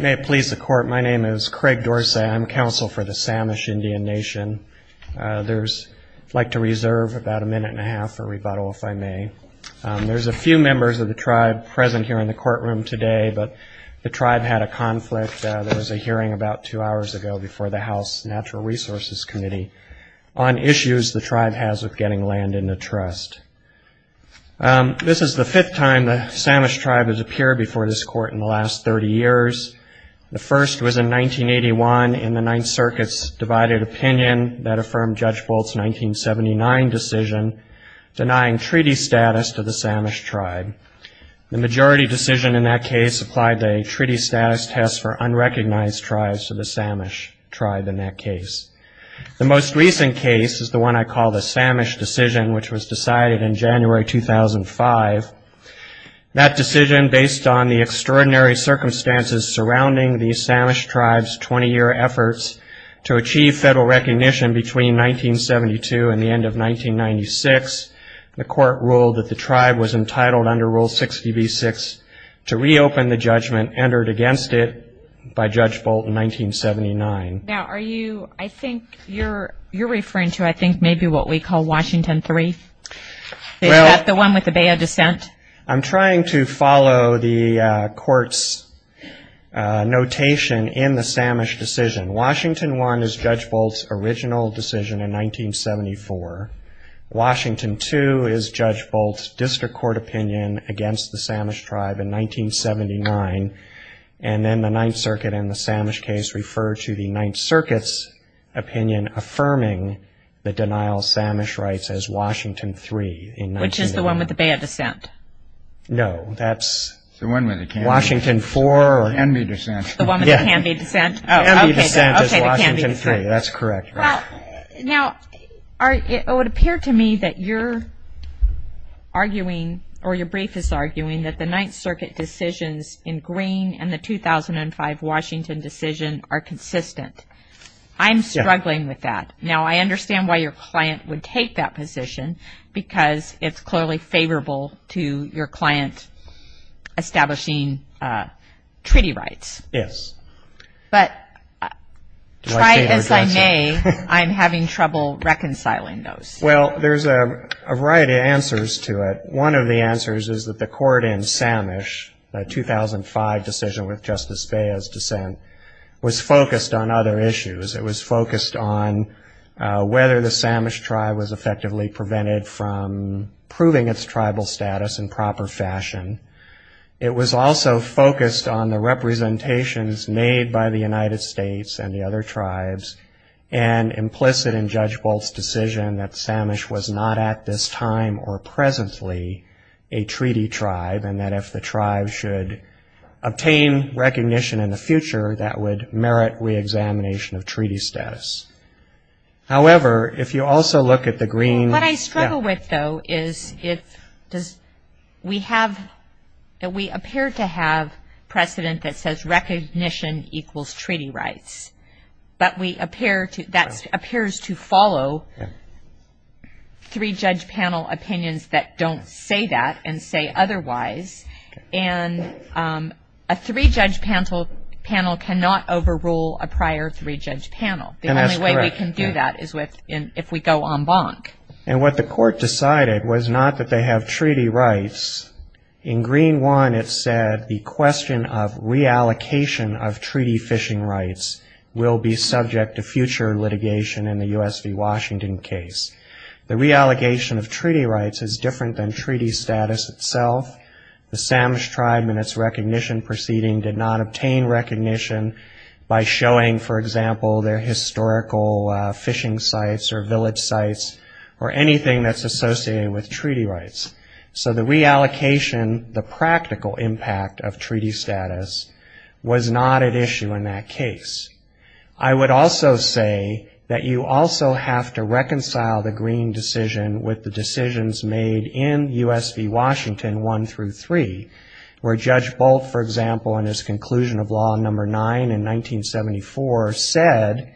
May it please the Court, my name is Craig Dorsey. I'm counsel for the Samish Indian Nation. I'd like to reserve about a minute and a half for rebuttal, if I may. There's a few members of the tribe present here in the courtroom today, but the tribe had a conflict. There was a hearing about two hours ago before the House Natural Resources Committee on issues the tribe has with getting land in the Trust. This is the fifth time the Samish tribe has appeared before this Court in the last 30 years. The first was in 1981 in the Ninth Circuit's divided opinion that affirmed Judge Bolt's 1979 decision denying treaty status to the Samish tribe. The majority decision in that case applied the treaty status test for unrecognized tribes to the Samish tribe in that case. The most recent case is the one I call the Samish decision, which was decided in January 2005. That decision, based on the extraordinary circumstances surrounding the Samish tribe's 20-year efforts to achieve federal recognition between 1972 and the end of 1996, the Court ruled that the tribe was entitled under Rule 60b-6 to reopen the judgment entered against it by Judge Bolt in 1979. Now, are you, I think you're referring to, I think, maybe what we call Washington III? Is that the one with the bay of dissent? I'm trying to follow the Court's notation in the Samish decision. Washington I is Judge Bolt's original decision in 1974. Washington II is Judge Bolt's district court opinion against the Samish tribe in 1979. And then the Ninth Circuit in the Samish case referred to the Ninth Circuit's opinion affirming the denial of Samish rights as Washington III in 1980. Which is the one with the bay of dissent? No, that's Washington IV. The one with the Canby dissent. The one with the Canby dissent. The Canby dissent is Washington III. That's correct. Now, it would appear to me that you're arguing, or your brief is arguing, that the Ninth Circuit decisions in Green and the 2005 Washington decision are consistent. I'm struggling with that. Now, I understand why your client would take that position, because it's clearly favorable to your client establishing treaty rights. Yes. But try as I may, I'm having trouble reconciling those. Well, there's a variety of answers to it. One of the answers is that the court in Samish, the 2005 decision with Justice Baya's dissent, was focused on other issues. It was focused on whether the Samish tribe was effectively prevented from proving its tribal status in proper fashion. It was also focused on the representations made by the United States and the other tribes, and implicit in Judge Bolt's decision that Samish was not at this time or presently a treaty tribe, and that if the tribe should obtain recognition in the future, that would merit reexamination of treaty status. However, if you also look at the Green – What I struggle with, though, is we appear to have precedent that says recognition equals treaty rights, but that appears to follow three-judge panel opinions that don't say that and say otherwise, and a three-judge panel cannot overrule a prior three-judge panel. The only way we can do that is if we go en banc. And what the court decided was not that they have treaty rights. In Green 1, it said the question of reallocation of treaty fishing rights will be subject to future litigation in the U.S. v. Washington case. The reallocation of treaty rights is different than treaty status itself. The Samish tribe in its recognition proceeding did not obtain recognition by showing, for example, their historical fishing sites or village sites or anything that's associated with treaty rights. So the reallocation, the practical impact of treaty status, was not at issue in that case. I would also say that you also have to reconcile the Green decision with the decisions made in U.S. v. Washington 1 through 3, where Judge Bolt, for example, in his conclusion of Law No. 9 in 1974, said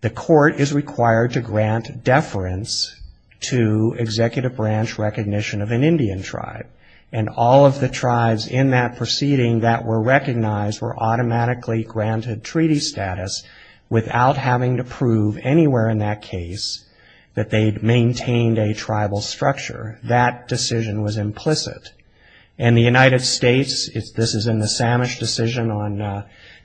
the court is required to grant deference to executive branch recognition of an Indian tribe. And all of the tribes in that proceeding that were recognized were automatically granted treaty status without having to prove anywhere in that case that they'd maintained a tribal structure. That decision was implicit. And the United States, this is in the Samish decision on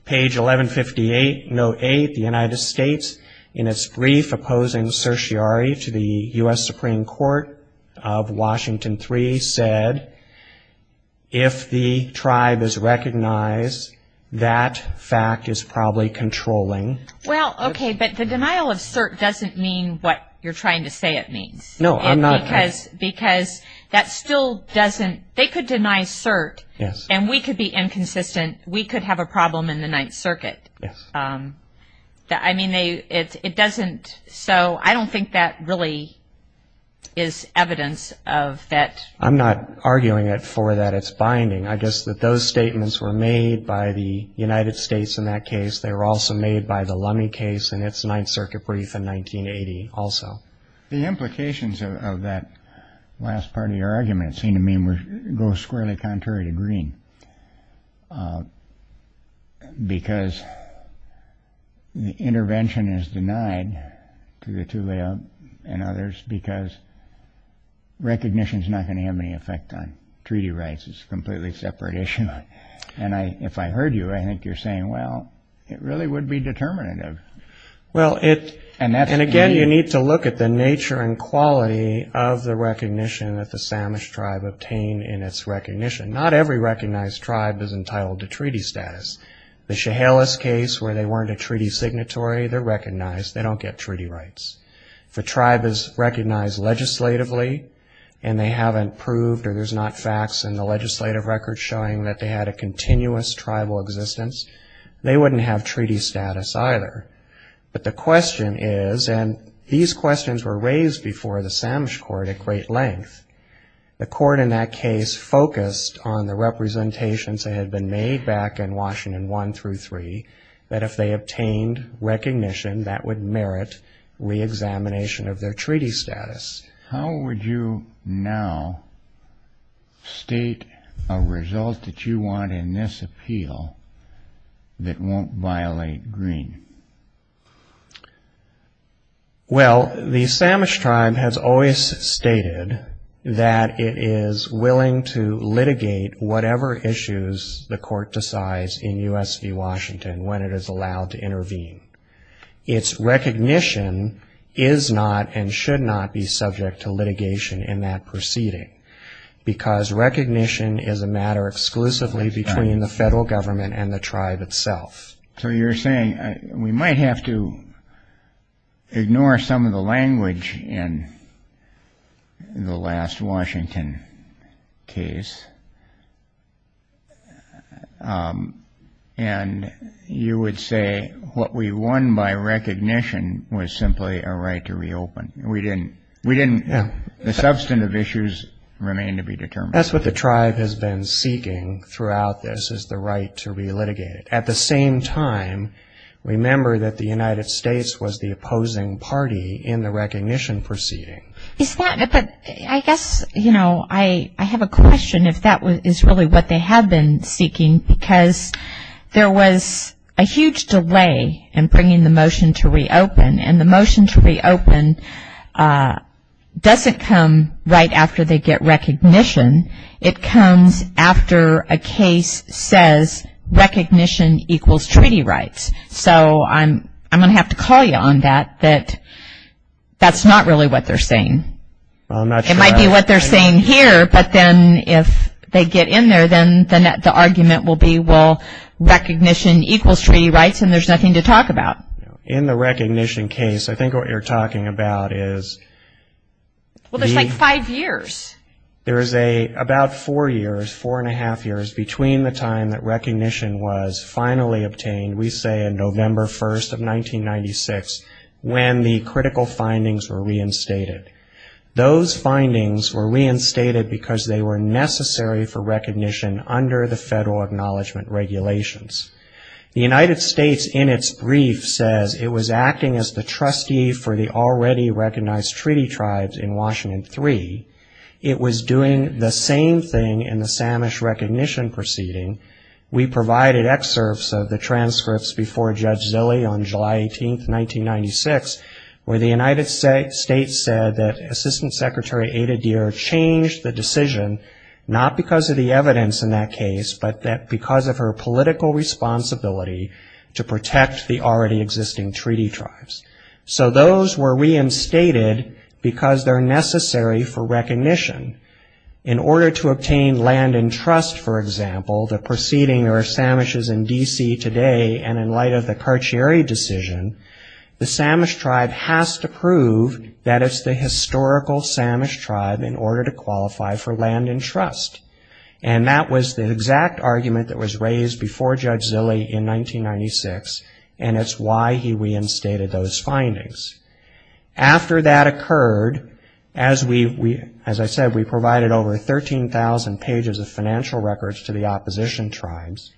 page 1158, note 8, the United States, in its brief opposing certiorari to the U.S. Supreme Court of Washington 3, said if the tribe is recognized, that fact is probably controlling. Well, okay, but the denial of cert doesn't mean what you're trying to say it means. No, I'm not. Because that still doesn't, they could deny cert. Yes. And we could be inconsistent. We could have a problem in the Ninth Circuit. Yes. I mean, it doesn't, so I don't think that really is evidence of that. I'm not arguing it for that it's binding. I guess that those statements were made by the United States in that case. They were also made by the Lummi case in its Ninth Circuit brief in 1980 also. The implications of that last part of your argument seem to me to go squarely contrary to Green, because the intervention is denied to the Tulio and others because recognition is not going to have any effect on treaty rights. It's a completely separate issue. And if I heard you, I think you're saying, well, it really would be determinative. And, again, you need to look at the nature and quality of the recognition that the Samish tribe obtained in its recognition. Not every recognized tribe is entitled to treaty status. The Chehalis case, where they weren't a treaty signatory, they're recognized. They don't get treaty rights. If a tribe is recognized legislatively and they haven't proved or there's not facts in the legislative record showing that they had a continuous tribal existence, they wouldn't have treaty status either. But the question is, and these questions were raised before the Samish court at great length, the court in that case focused on the representations that had been made back in Washington I through III, that if they obtained recognition, that would merit reexamination of their treaty status. How would you now state a result that you want in this appeal that won't violate Green? Well, the Samish tribe has always stated that it is willing to litigate whatever issues the court decides in U.S. v. Washington when it is allowed to intervene. Its recognition is not and should not be subject to litigation in that proceeding, because recognition is a matter exclusively between the federal government and the tribe itself. So you're saying we might have to ignore some of the language in the last Washington case, and you would say what we won by recognition was simply a right to reopen. We didn't. The substantive issues remain to be determined. That's what the tribe has been seeking throughout this, is the right to relitigate it. At the same time, remember that the United States was the opposing party in the recognition proceeding. But I guess, you know, I have a question if that is really what they have been seeking, because there was a huge delay in bringing the motion to reopen, and the motion to reopen doesn't come right after they get recognition. It comes after a case says recognition equals treaty rights. So I'm going to have to call you on that, that that's not really what they're saying. It might be what they're saying here, but then if they get in there, then the argument will be, well, recognition equals treaty rights, and there's nothing to talk about. In the recognition case, I think what you're talking about is the ‑‑ Well, there's like five years. There is about four years, four and a half years, between the time that recognition was finally obtained, we say on November 1st of 1996, when the critical findings were reinstated. Those findings were reinstated because they were necessary for recognition under the federal acknowledgement regulations. The United States in its brief says it was acting as the trustee for the already recognized treaty tribes in Washington III. It was doing the same thing in the Samish recognition proceeding. We provided excerpts of the transcripts before Judge Zille on July 18th, 1996, where the United States said that Assistant Secretary Ada Deer changed the decision, not because of the evidence in that case, but because of her political responsibility to protect the already existing treaty tribes. So those were reinstated because they're necessary for recognition. In order to obtain land and trust, for example, the proceeding of Samishes in D.C. today and in light of the Carcieri decision, the Samish tribe has to prove that it's the historical Samish tribe in order to qualify for land and trust. And that was the exact argument that was raised before Judge Zille in 1996, and it's why he reinstated those findings. After that occurred, as I said, we provided over 13,000 pages of financial records to the opposition tribes.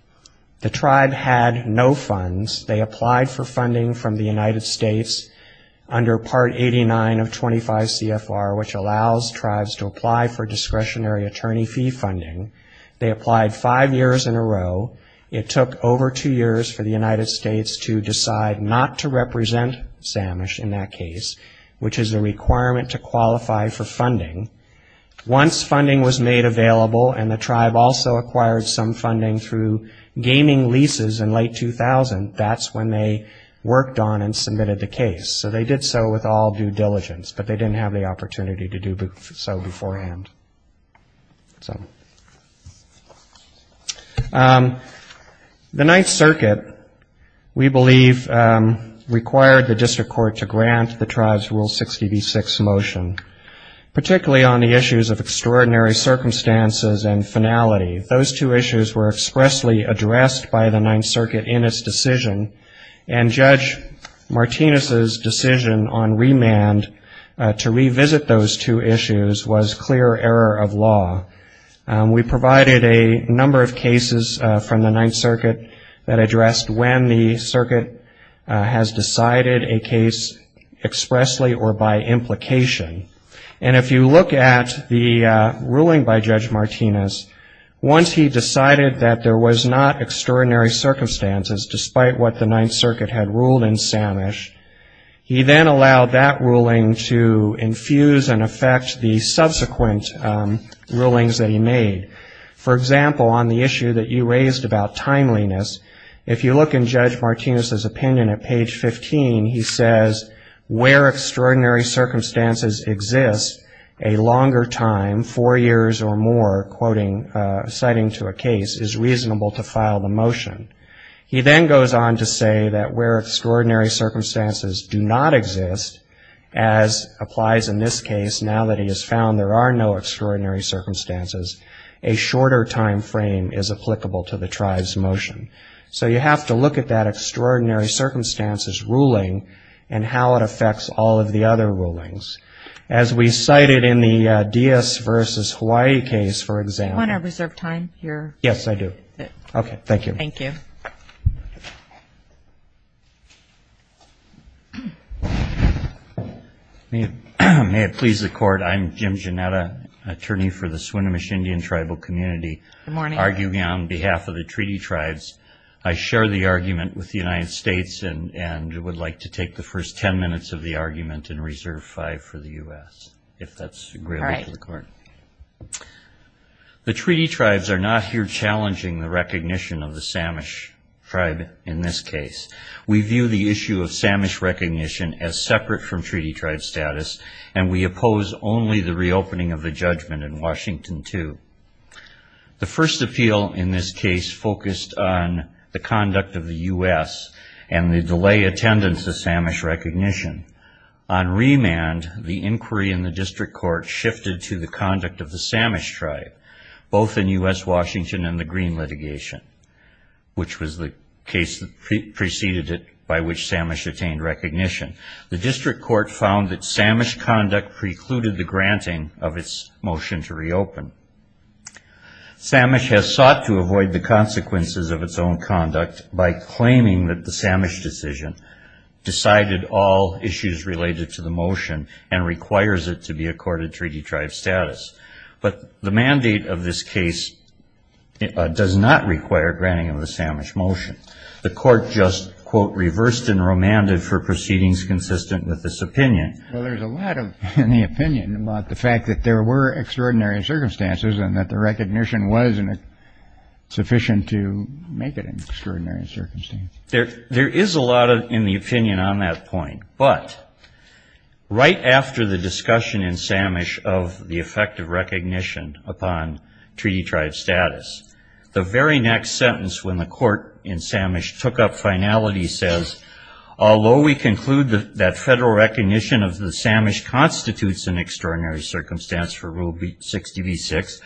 The tribe had no funds. They applied for funding from the United States under Part 89 of 25 CFR, which allows tribes to apply for discretionary attorney fee funding. They applied five years in a row. It took over two years for the United States to decide not to represent Samish in that case, which is a requirement to qualify for funding. Once funding was made available and the tribe also acquired some funding through gaming leases in late 2000, that's when they worked on and submitted the case. So they did so with all due diligence, but they didn't have the opportunity to do so beforehand. The Ninth Circuit, we believe, required the district court to grant the tribe's Rule 60b-6 motion, particularly on the issues of extraordinary circumstances and finality. Those two issues were expressly addressed by the Ninth Circuit in its decision, and Judge Martinez's decision on remand to revisit those two issues was clear error of law. We provided a number of cases from the Ninth Circuit that addressed when the circuit has decided a case expressly or by implication. And if you look at the ruling by Judge Martinez, once he decided that there was not extraordinary circumstances, despite what the Ninth Circuit had ruled in Samish, he then allowed that ruling to infuse and affect the subsequent rulings that he made. For example, on the issue that you raised about timeliness, if you look in Judge Martinez's opinion at page 15, he says, where extraordinary circumstances exist a longer time, four years or more, citing to a case, is reasonable to file the motion. He then goes on to say that where extraordinary circumstances do not exist, as applies in this case, now that he has found there are no extraordinary circumstances, a shorter time frame is applicable to the tribe's motion. So you have to look at that extraordinary circumstances ruling and how it affects all of the other rulings. As we cited in the Diaz versus Hawaii case, for example. Do you want to reserve time here? Yes, I do. Okay. Thank you. Thank you. May it please the Court, I'm Jim Gianetta, attorney for the Swinomish Indian Tribal Community, arguing on behalf of the treaty tribes. I share the argument with the United States and would like to take the first ten minutes of the argument and reserve five for the U.S., if that's agreeable to the Court. The treaty tribes are not here challenging the recognition of the Samish tribe in this case. We view the issue of Samish recognition as separate from treaty tribe status and we oppose only the reopening of the judgment in Washington II. The first appeal in this case focused on the conduct of the U.S. and the delayed attendance of Samish recognition. On remand, the inquiry in the district court shifted to the conduct of the Samish tribe, both in U.S. Washington and the Green litigation, which was the case that preceded it by which Samish attained recognition. The district court found that Samish conduct precluded the granting of its motion to reopen. Samish has sought to avoid the consequences of its own conduct by claiming that the Samish decision decided all issues related to the motion and requires it to be accorded treaty tribe status. But the mandate of this case does not require granting of the Samish motion. The court just, quote, reversed and remanded for proceedings consistent with this opinion. Well, there's a lot in the opinion about the fact that there were extraordinary circumstances and that the recognition wasn't sufficient to make it an extraordinary circumstance. There is a lot in the opinion on that point. But right after the discussion in Samish of the effect of recognition upon treaty tribe status, the very next sentence when the court in Samish took up finality says, Although we conclude that federal recognition of the Samish constitutes an extraordinary circumstance for Rule 60b-6,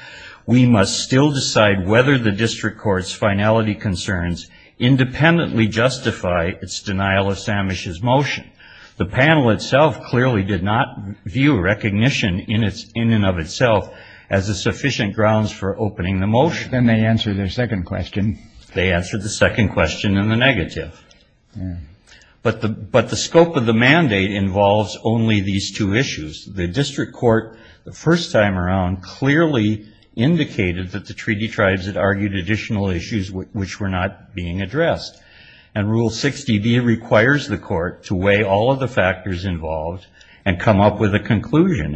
we must still decide whether the district court's finality concerns independently justify its denial of Samish's motion. The panel itself clearly did not view recognition in and of itself as a sufficient grounds for opening the motion. Then they answered their second question. They answered the second question in the negative. But the scope of the mandate involves only these two issues. The district court, the first time around, clearly indicated that the treaty tribes had argued additional issues which were not being addressed. And Rule 60b requires the court to weigh all of the factors involved and come up with a conclusion.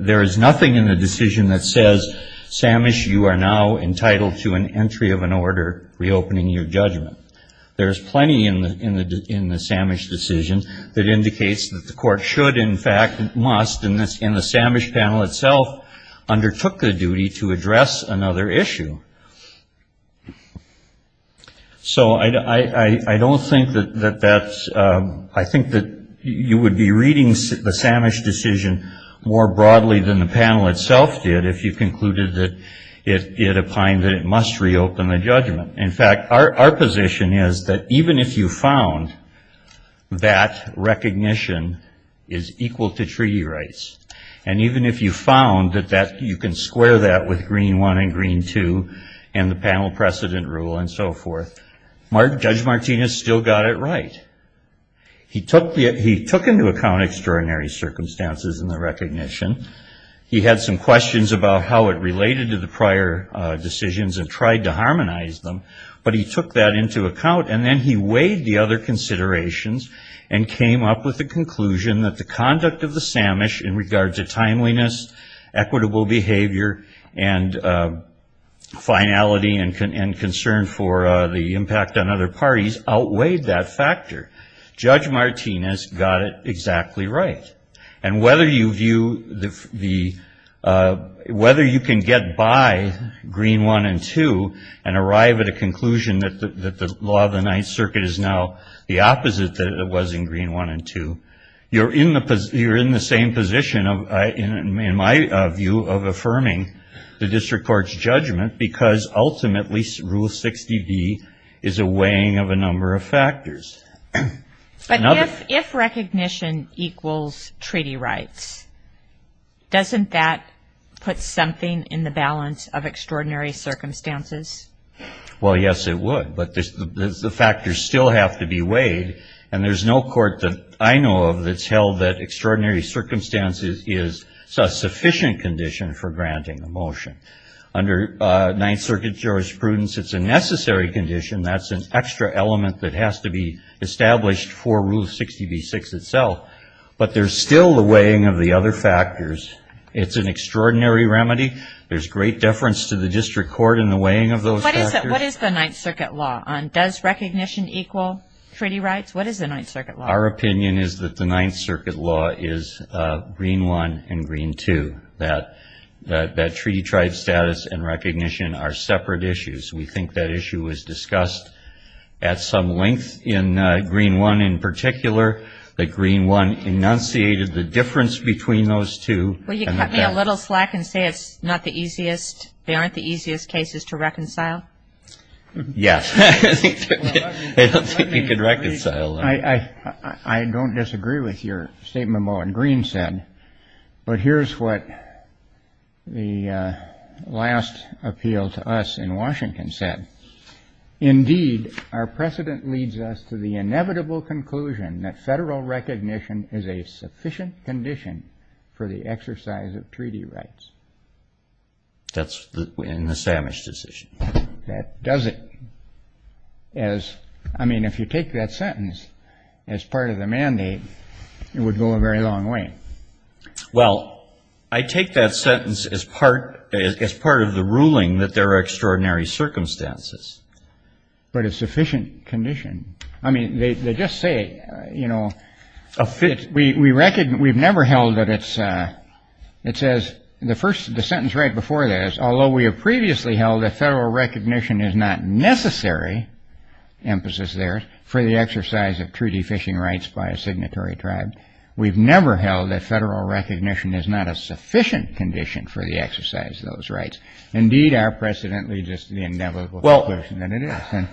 There is nothing in the decision that says, Samish, you are now entitled to an entry of an order reopening your judgment. There is plenty in the Samish decision that indicates that the court should, in fact, must, and the Samish panel itself undertook the duty to address another issue. So I don't think that that's, I think that you would be reading the Samish decision more broadly than the panel itself did if you concluded that it opined that it must reopen the judgment. In fact, our position is that even if you found that recognition is equal to treaty rights, and even if you found that you can square that with Green 1 and Green 2 and the panel precedent rule and so forth, Judge Martinez still got it right. He took into account extraordinary circumstances in the recognition. He had some questions about how it related to the prior decisions and tried to harmonize them. But he took that into account, and then he weighed the other considerations and came up with the conclusion that the conduct of the Samish in regards to timeliness, equitable behavior, and finality and concern for the impact on other parties outweighed that factor. Judge Martinez got it exactly right. And whether you view the, whether you can get by Green 1 and 2 and arrive at a conclusion that the law of the Ninth Circuit is now the opposite that it was in Green 1 and 2, you're in the same position, in my view, of affirming the district court's judgment because ultimately Rule 60B is a weighing of a number of factors. But if recognition equals treaty rights, doesn't that put something in the balance of extraordinary circumstances? Well, yes, it would. But the factors still have to be weighed, and there's no court that I know of that's held that extraordinary circumstances is a sufficient condition for granting a motion. Under Ninth Circuit jurisprudence, it's a necessary condition. That's an extra element that has to be established for Rule 60B-6 itself. But there's still the weighing of the other factors. It's an extraordinary remedy. There's great deference to the district court in the weighing of those factors. What is the Ninth Circuit law on does recognition equal treaty rights? What is the Ninth Circuit law? Our opinion is that the Ninth Circuit law is Green 1 and Green 2, that treaty tribe status and recognition are separate issues. We think that issue was discussed at some length in Green 1 in particular, that Green 1 enunciated the difference between those two. Will you cut me a little slack and say it's not the easiest, they aren't the easiest cases to reconcile? Yes. I don't think you could reconcile them. I don't disagree with your statement Mullen Green said, but here's what the last appeal to us in Washington said. Indeed, our precedent leads us to the inevitable conclusion that federal recognition is a sufficient condition for the exercise of treaty rights. That's in the Samish decision. That does it. I mean, if you take that sentence as part of the mandate, it would go a very long way. Well, I take that sentence as part of the ruling that there are extraordinary circumstances. But a sufficient condition. I mean, they just say, you know, we've never held that it's, it says, the sentence right before that is, although we have previously held that federal recognition is not necessary, emphasis there, for the exercise of treaty fishing rights by a signatory tribe, we've never held that federal recognition is not a sufficient condition for the exercise of those rights. Indeed, our precedent leads us to the inevitable conclusion that it is.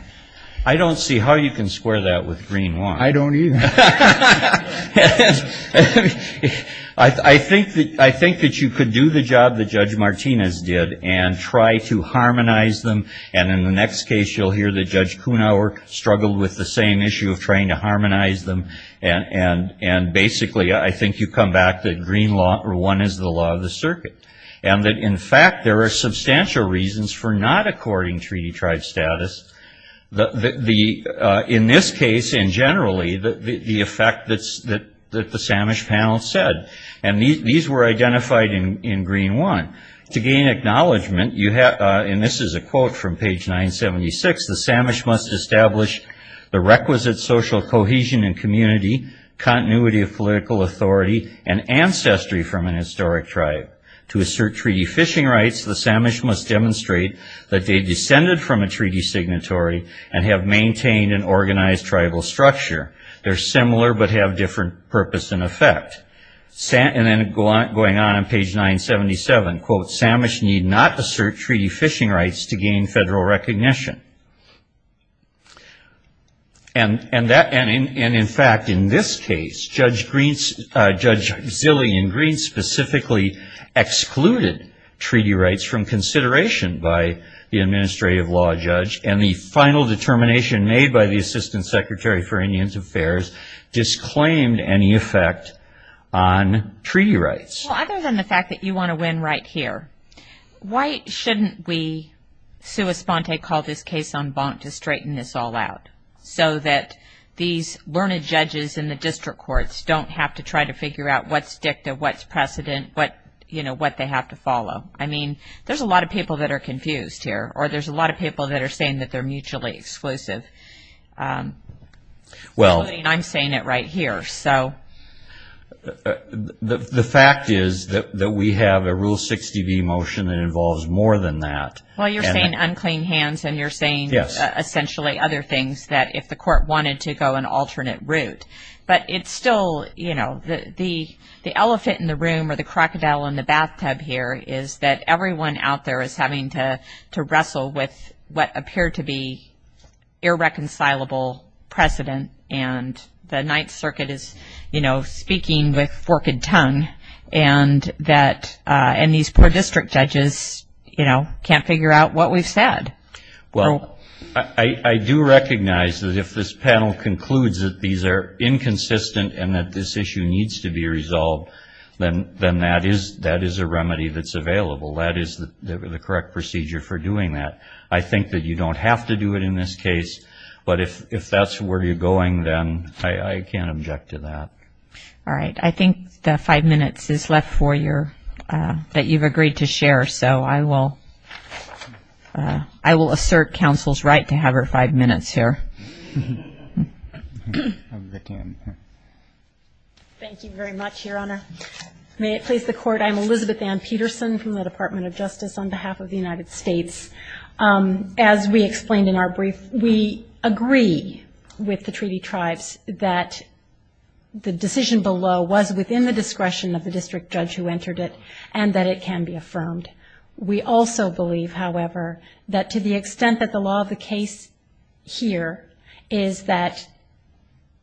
I don't see how you can square that with Green 1. I don't either. I think that you could do the job that Judge Martinez did and try to harmonize them. And in the next case, you'll hear that Judge Kunauer struggled with the same issue of trying to harmonize them. And basically, I think you come back to Green 1 is the law of the circuit. And that, in fact, there are substantial reasons for not according treaty tribe status. In this case, and generally, the effect that the Samish panel said. And these were identified in Green 1. To gain acknowledgment, and this is a quote from page 976, the Samish must establish the requisite social cohesion and community, continuity of political authority, and ancestry from an historic tribe. To assert treaty fishing rights, the Samish must demonstrate that they descended from a treaty signatory and have maintained an organized tribal structure. They're similar but have different purpose and effect. And then going on in page 977, quote, Samish need not assert treaty fishing rights to gain federal recognition. And in fact, in this case, Judge Zillian Green specifically excluded treaty rights from consideration by the administrative law judge. And the final determination made by the Assistant Secretary for Indian Affairs disclaimed any effect on treaty rights. Well, other than the fact that you want to win right here, why shouldn't we, sua sponte, call this case en banc to straighten this all out? So that these learned judges in the district courts don't have to try to figure out what's dicta, what's precedent, what, you know, what they have to follow. I mean, there's a lot of people that are confused here, or there's a lot of people that are saying that they're mutually exclusive. I'm saying it right here, so. The fact is that we have a Rule 60B motion that involves more than that. Well, you're saying unclean hands and you're saying essentially other things that if the court wanted to go an alternate route. But it's still, you know, the elephant in the room or the crocodile in the bathtub here is that everyone out there is having to wrestle with what appeared to be irreconcilable precedent. And the Ninth Circuit is, you know, speaking with forked tongue. And these poor district judges, you know, can't figure out what we've said. Well, I do recognize that if this panel concludes that these are inconsistent and that this issue needs to be resolved, then that is a remedy that's available. That is the correct procedure for doing that. I think that you don't have to do it in this case. But if that's where you're going, then I can't object to that. All right. I think the five minutes is left that you've agreed to share. So I will assert counsel's right to have her five minutes here. Thank you very much, Your Honor. May it please the Court, I'm Elizabeth Ann Peterson from the Department of Justice on behalf of the United States. As we explained in our brief, we agree with the treaty tribes that the decision below was within the discretion of the district judge who entered it and that it can be affirmed. We also believe, however, that to the extent that the law of the case here is that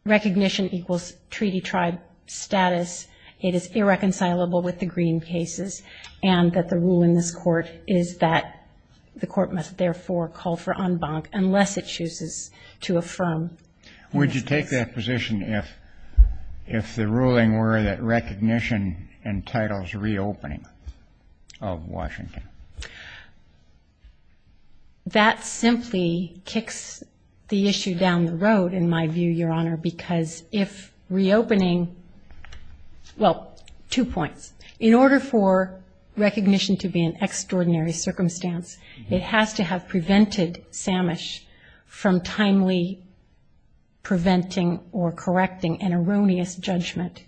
recognition equals treaty tribe status, it is irreconcilable with the Green cases, and that the rule in this court is that the court must therefore call for en banc unless it chooses to affirm. Would you take that position if the ruling were that recognition entitles reopening of Washington? That simply kicks the issue down the road, in my view, Your Honor, because if reopening, well, two points. In order for recognition to be an extraordinary circumstance, it has to have prevented Samish from timely preventing or correcting an erroneous judgment.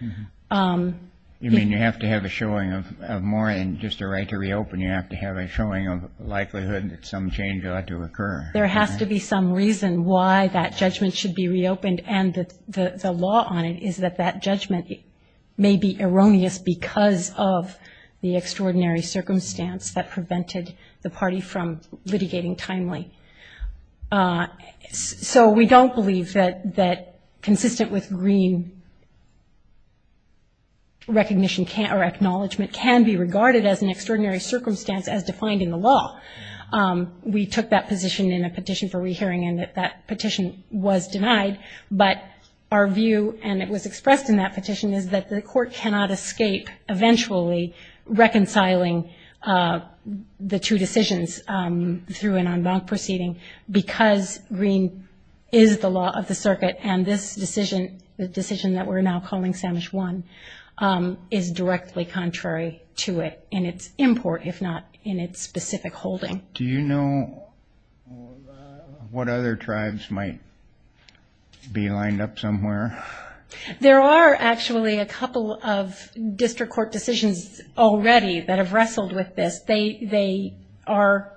You mean you have to have a showing of more than just a right to reopen. You have to have a showing of likelihood that some change ought to occur. There has to be some reason why that judgment should be reopened, and the law on it is that that judgment may be erroneous because of the extraordinary circumstance that prevented the party from litigating timely. So we don't believe that consistent with Green, recognition or acknowledgement can be regarded as an extraordinary circumstance as defined in the law. We took that position in a petition for rehearing, and that petition was denied. But our view, and it was expressed in that petition, is that the court cannot escape eventually reconciling the two decisions through an en banc proceeding because Green is the law of the circuit, and this decision, the decision that we're now calling Samish 1, is directly contrary to it in its import, if not in its specific holding. Do you know what other tribes might be lined up somewhere? There are actually a couple of district court decisions already that have wrestled with this. They are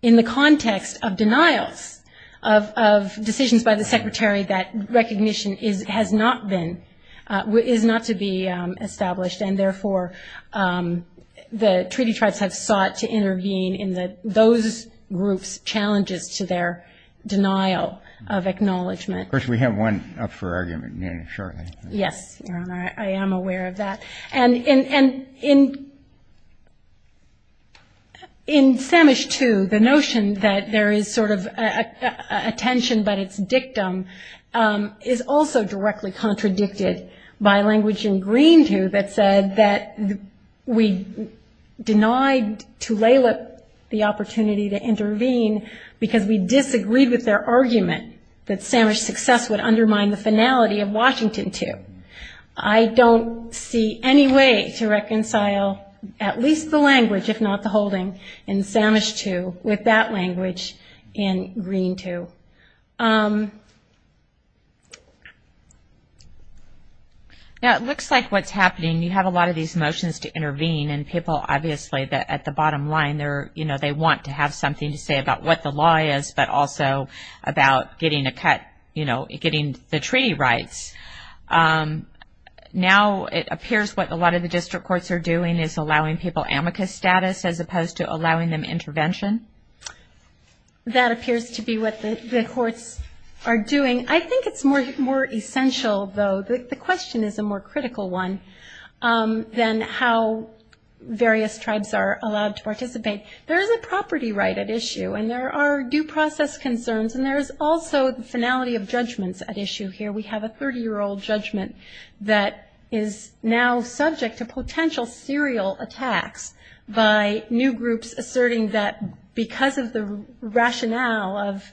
in the context of denials of decisions by the secretary that recognition has not been is not to be established, and therefore the treaty tribes have sought to intervene in those groups' challenges to their denial of acknowledgement. Of course, we have one up for argument shortly. Yes, Your Honor, I am aware of that. And in Samish 2, the notion that there is sort of a tension but it's dictum, is also directly contradicted by language in Green 2 that said that we denied Tulalip the opportunity to intervene because we disagreed with their argument that Samish success would undermine the finality of Washington 2. I don't see any way to reconcile at least the language, if not the holding, in Samish 2 with that language in Green 2. It looks like what's happening, you have a lot of these motions to intervene, and people obviously at the bottom line, they want to have something to say about what the law is, but also about getting the treaty rights. Now it appears what a lot of the district courts are doing is allowing people amicus status as opposed to allowing them intervention. That appears to be what the courts are doing. I think it's more essential, though, the question is a more critical one, than how various tribes are allowed to participate. There is a property right at issue, and there are due process concerns, and there is also the finality of judgments at issue here. We have a 30-year-old judgment that is now subject to potential serial attacks by new groups asserting that because of the rationale of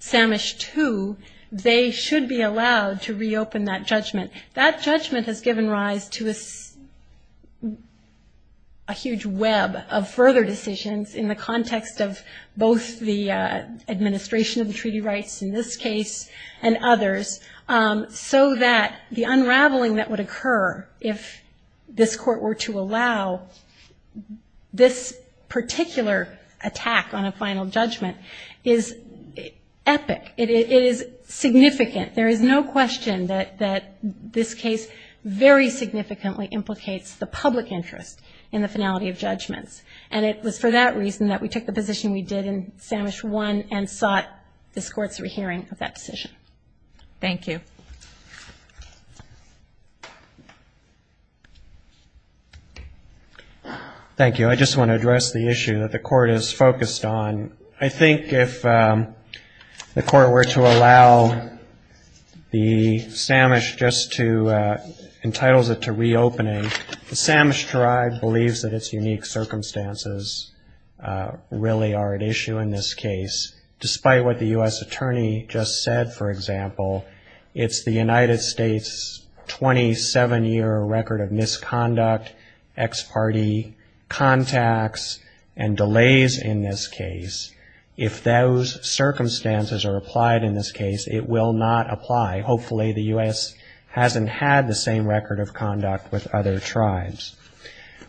Samish 2, they should be allowed to reopen that judgment. That judgment has given rise to a huge web of further decisions in the context of both the administration of the treaty rights in this case and others, so that the unraveling that would occur if this court were to allow this particular attack on a final judgment is epic. It is significant. There is no question that this case very significantly implicates the public interest in the finality of judgments, and it was for that reason that we took the position we did in Samish 1 and sought this court's hearing of that decision. Thank you. Thank you. I just want to address the issue that the court is focused on. I think if the court were to allow the Samish just to entitles it to reopening, the Samish tribe believes that its unique circumstances really are at issue in this case, despite what the U.S. attorney just said, for example. It's the United States' 27-year record of misconduct, ex parte contacts, and delays in this case. If those circumstances are applied in this case, it will not apply. Hopefully the U.S. hasn't had the same record of conduct with other tribes.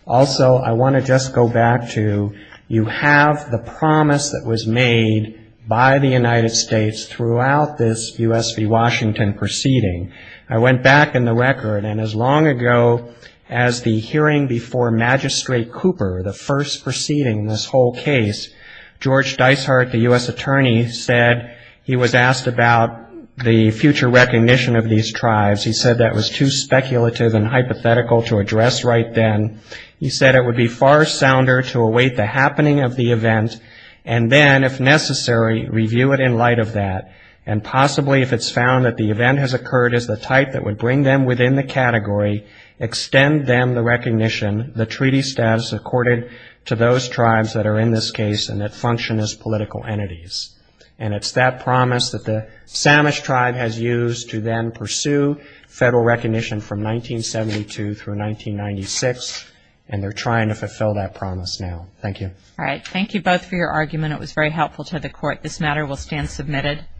Also, I want to just go back to you have the promise that was made by the United States throughout this U.S. v. Washington proceeding. I went back in the record, and as long ago as the hearing before Magistrate Cooper, the first proceeding in this whole case, George Dicehart, the U.S. attorney, said he was asked about the future recognition of these tribes. He said that was too speculative and hypothetical to address right then. He said it would be far sounder to await the happening of the event, and then, if necessary, review it in light of that. And possibly if it's found that the event has occurred as the type that would bring them within the category, extend them the recognition, the treaty status, accorded to those tribes that are in this case and that function as political entities. And it's that promise that the Samish tribe has used to then pursue federal recognition from 1972 through 1996, and they're trying to fulfill that promise now. Thank you. All right. Thank you both for your argument. It was very helpful to the Court. This matter will stand submitted.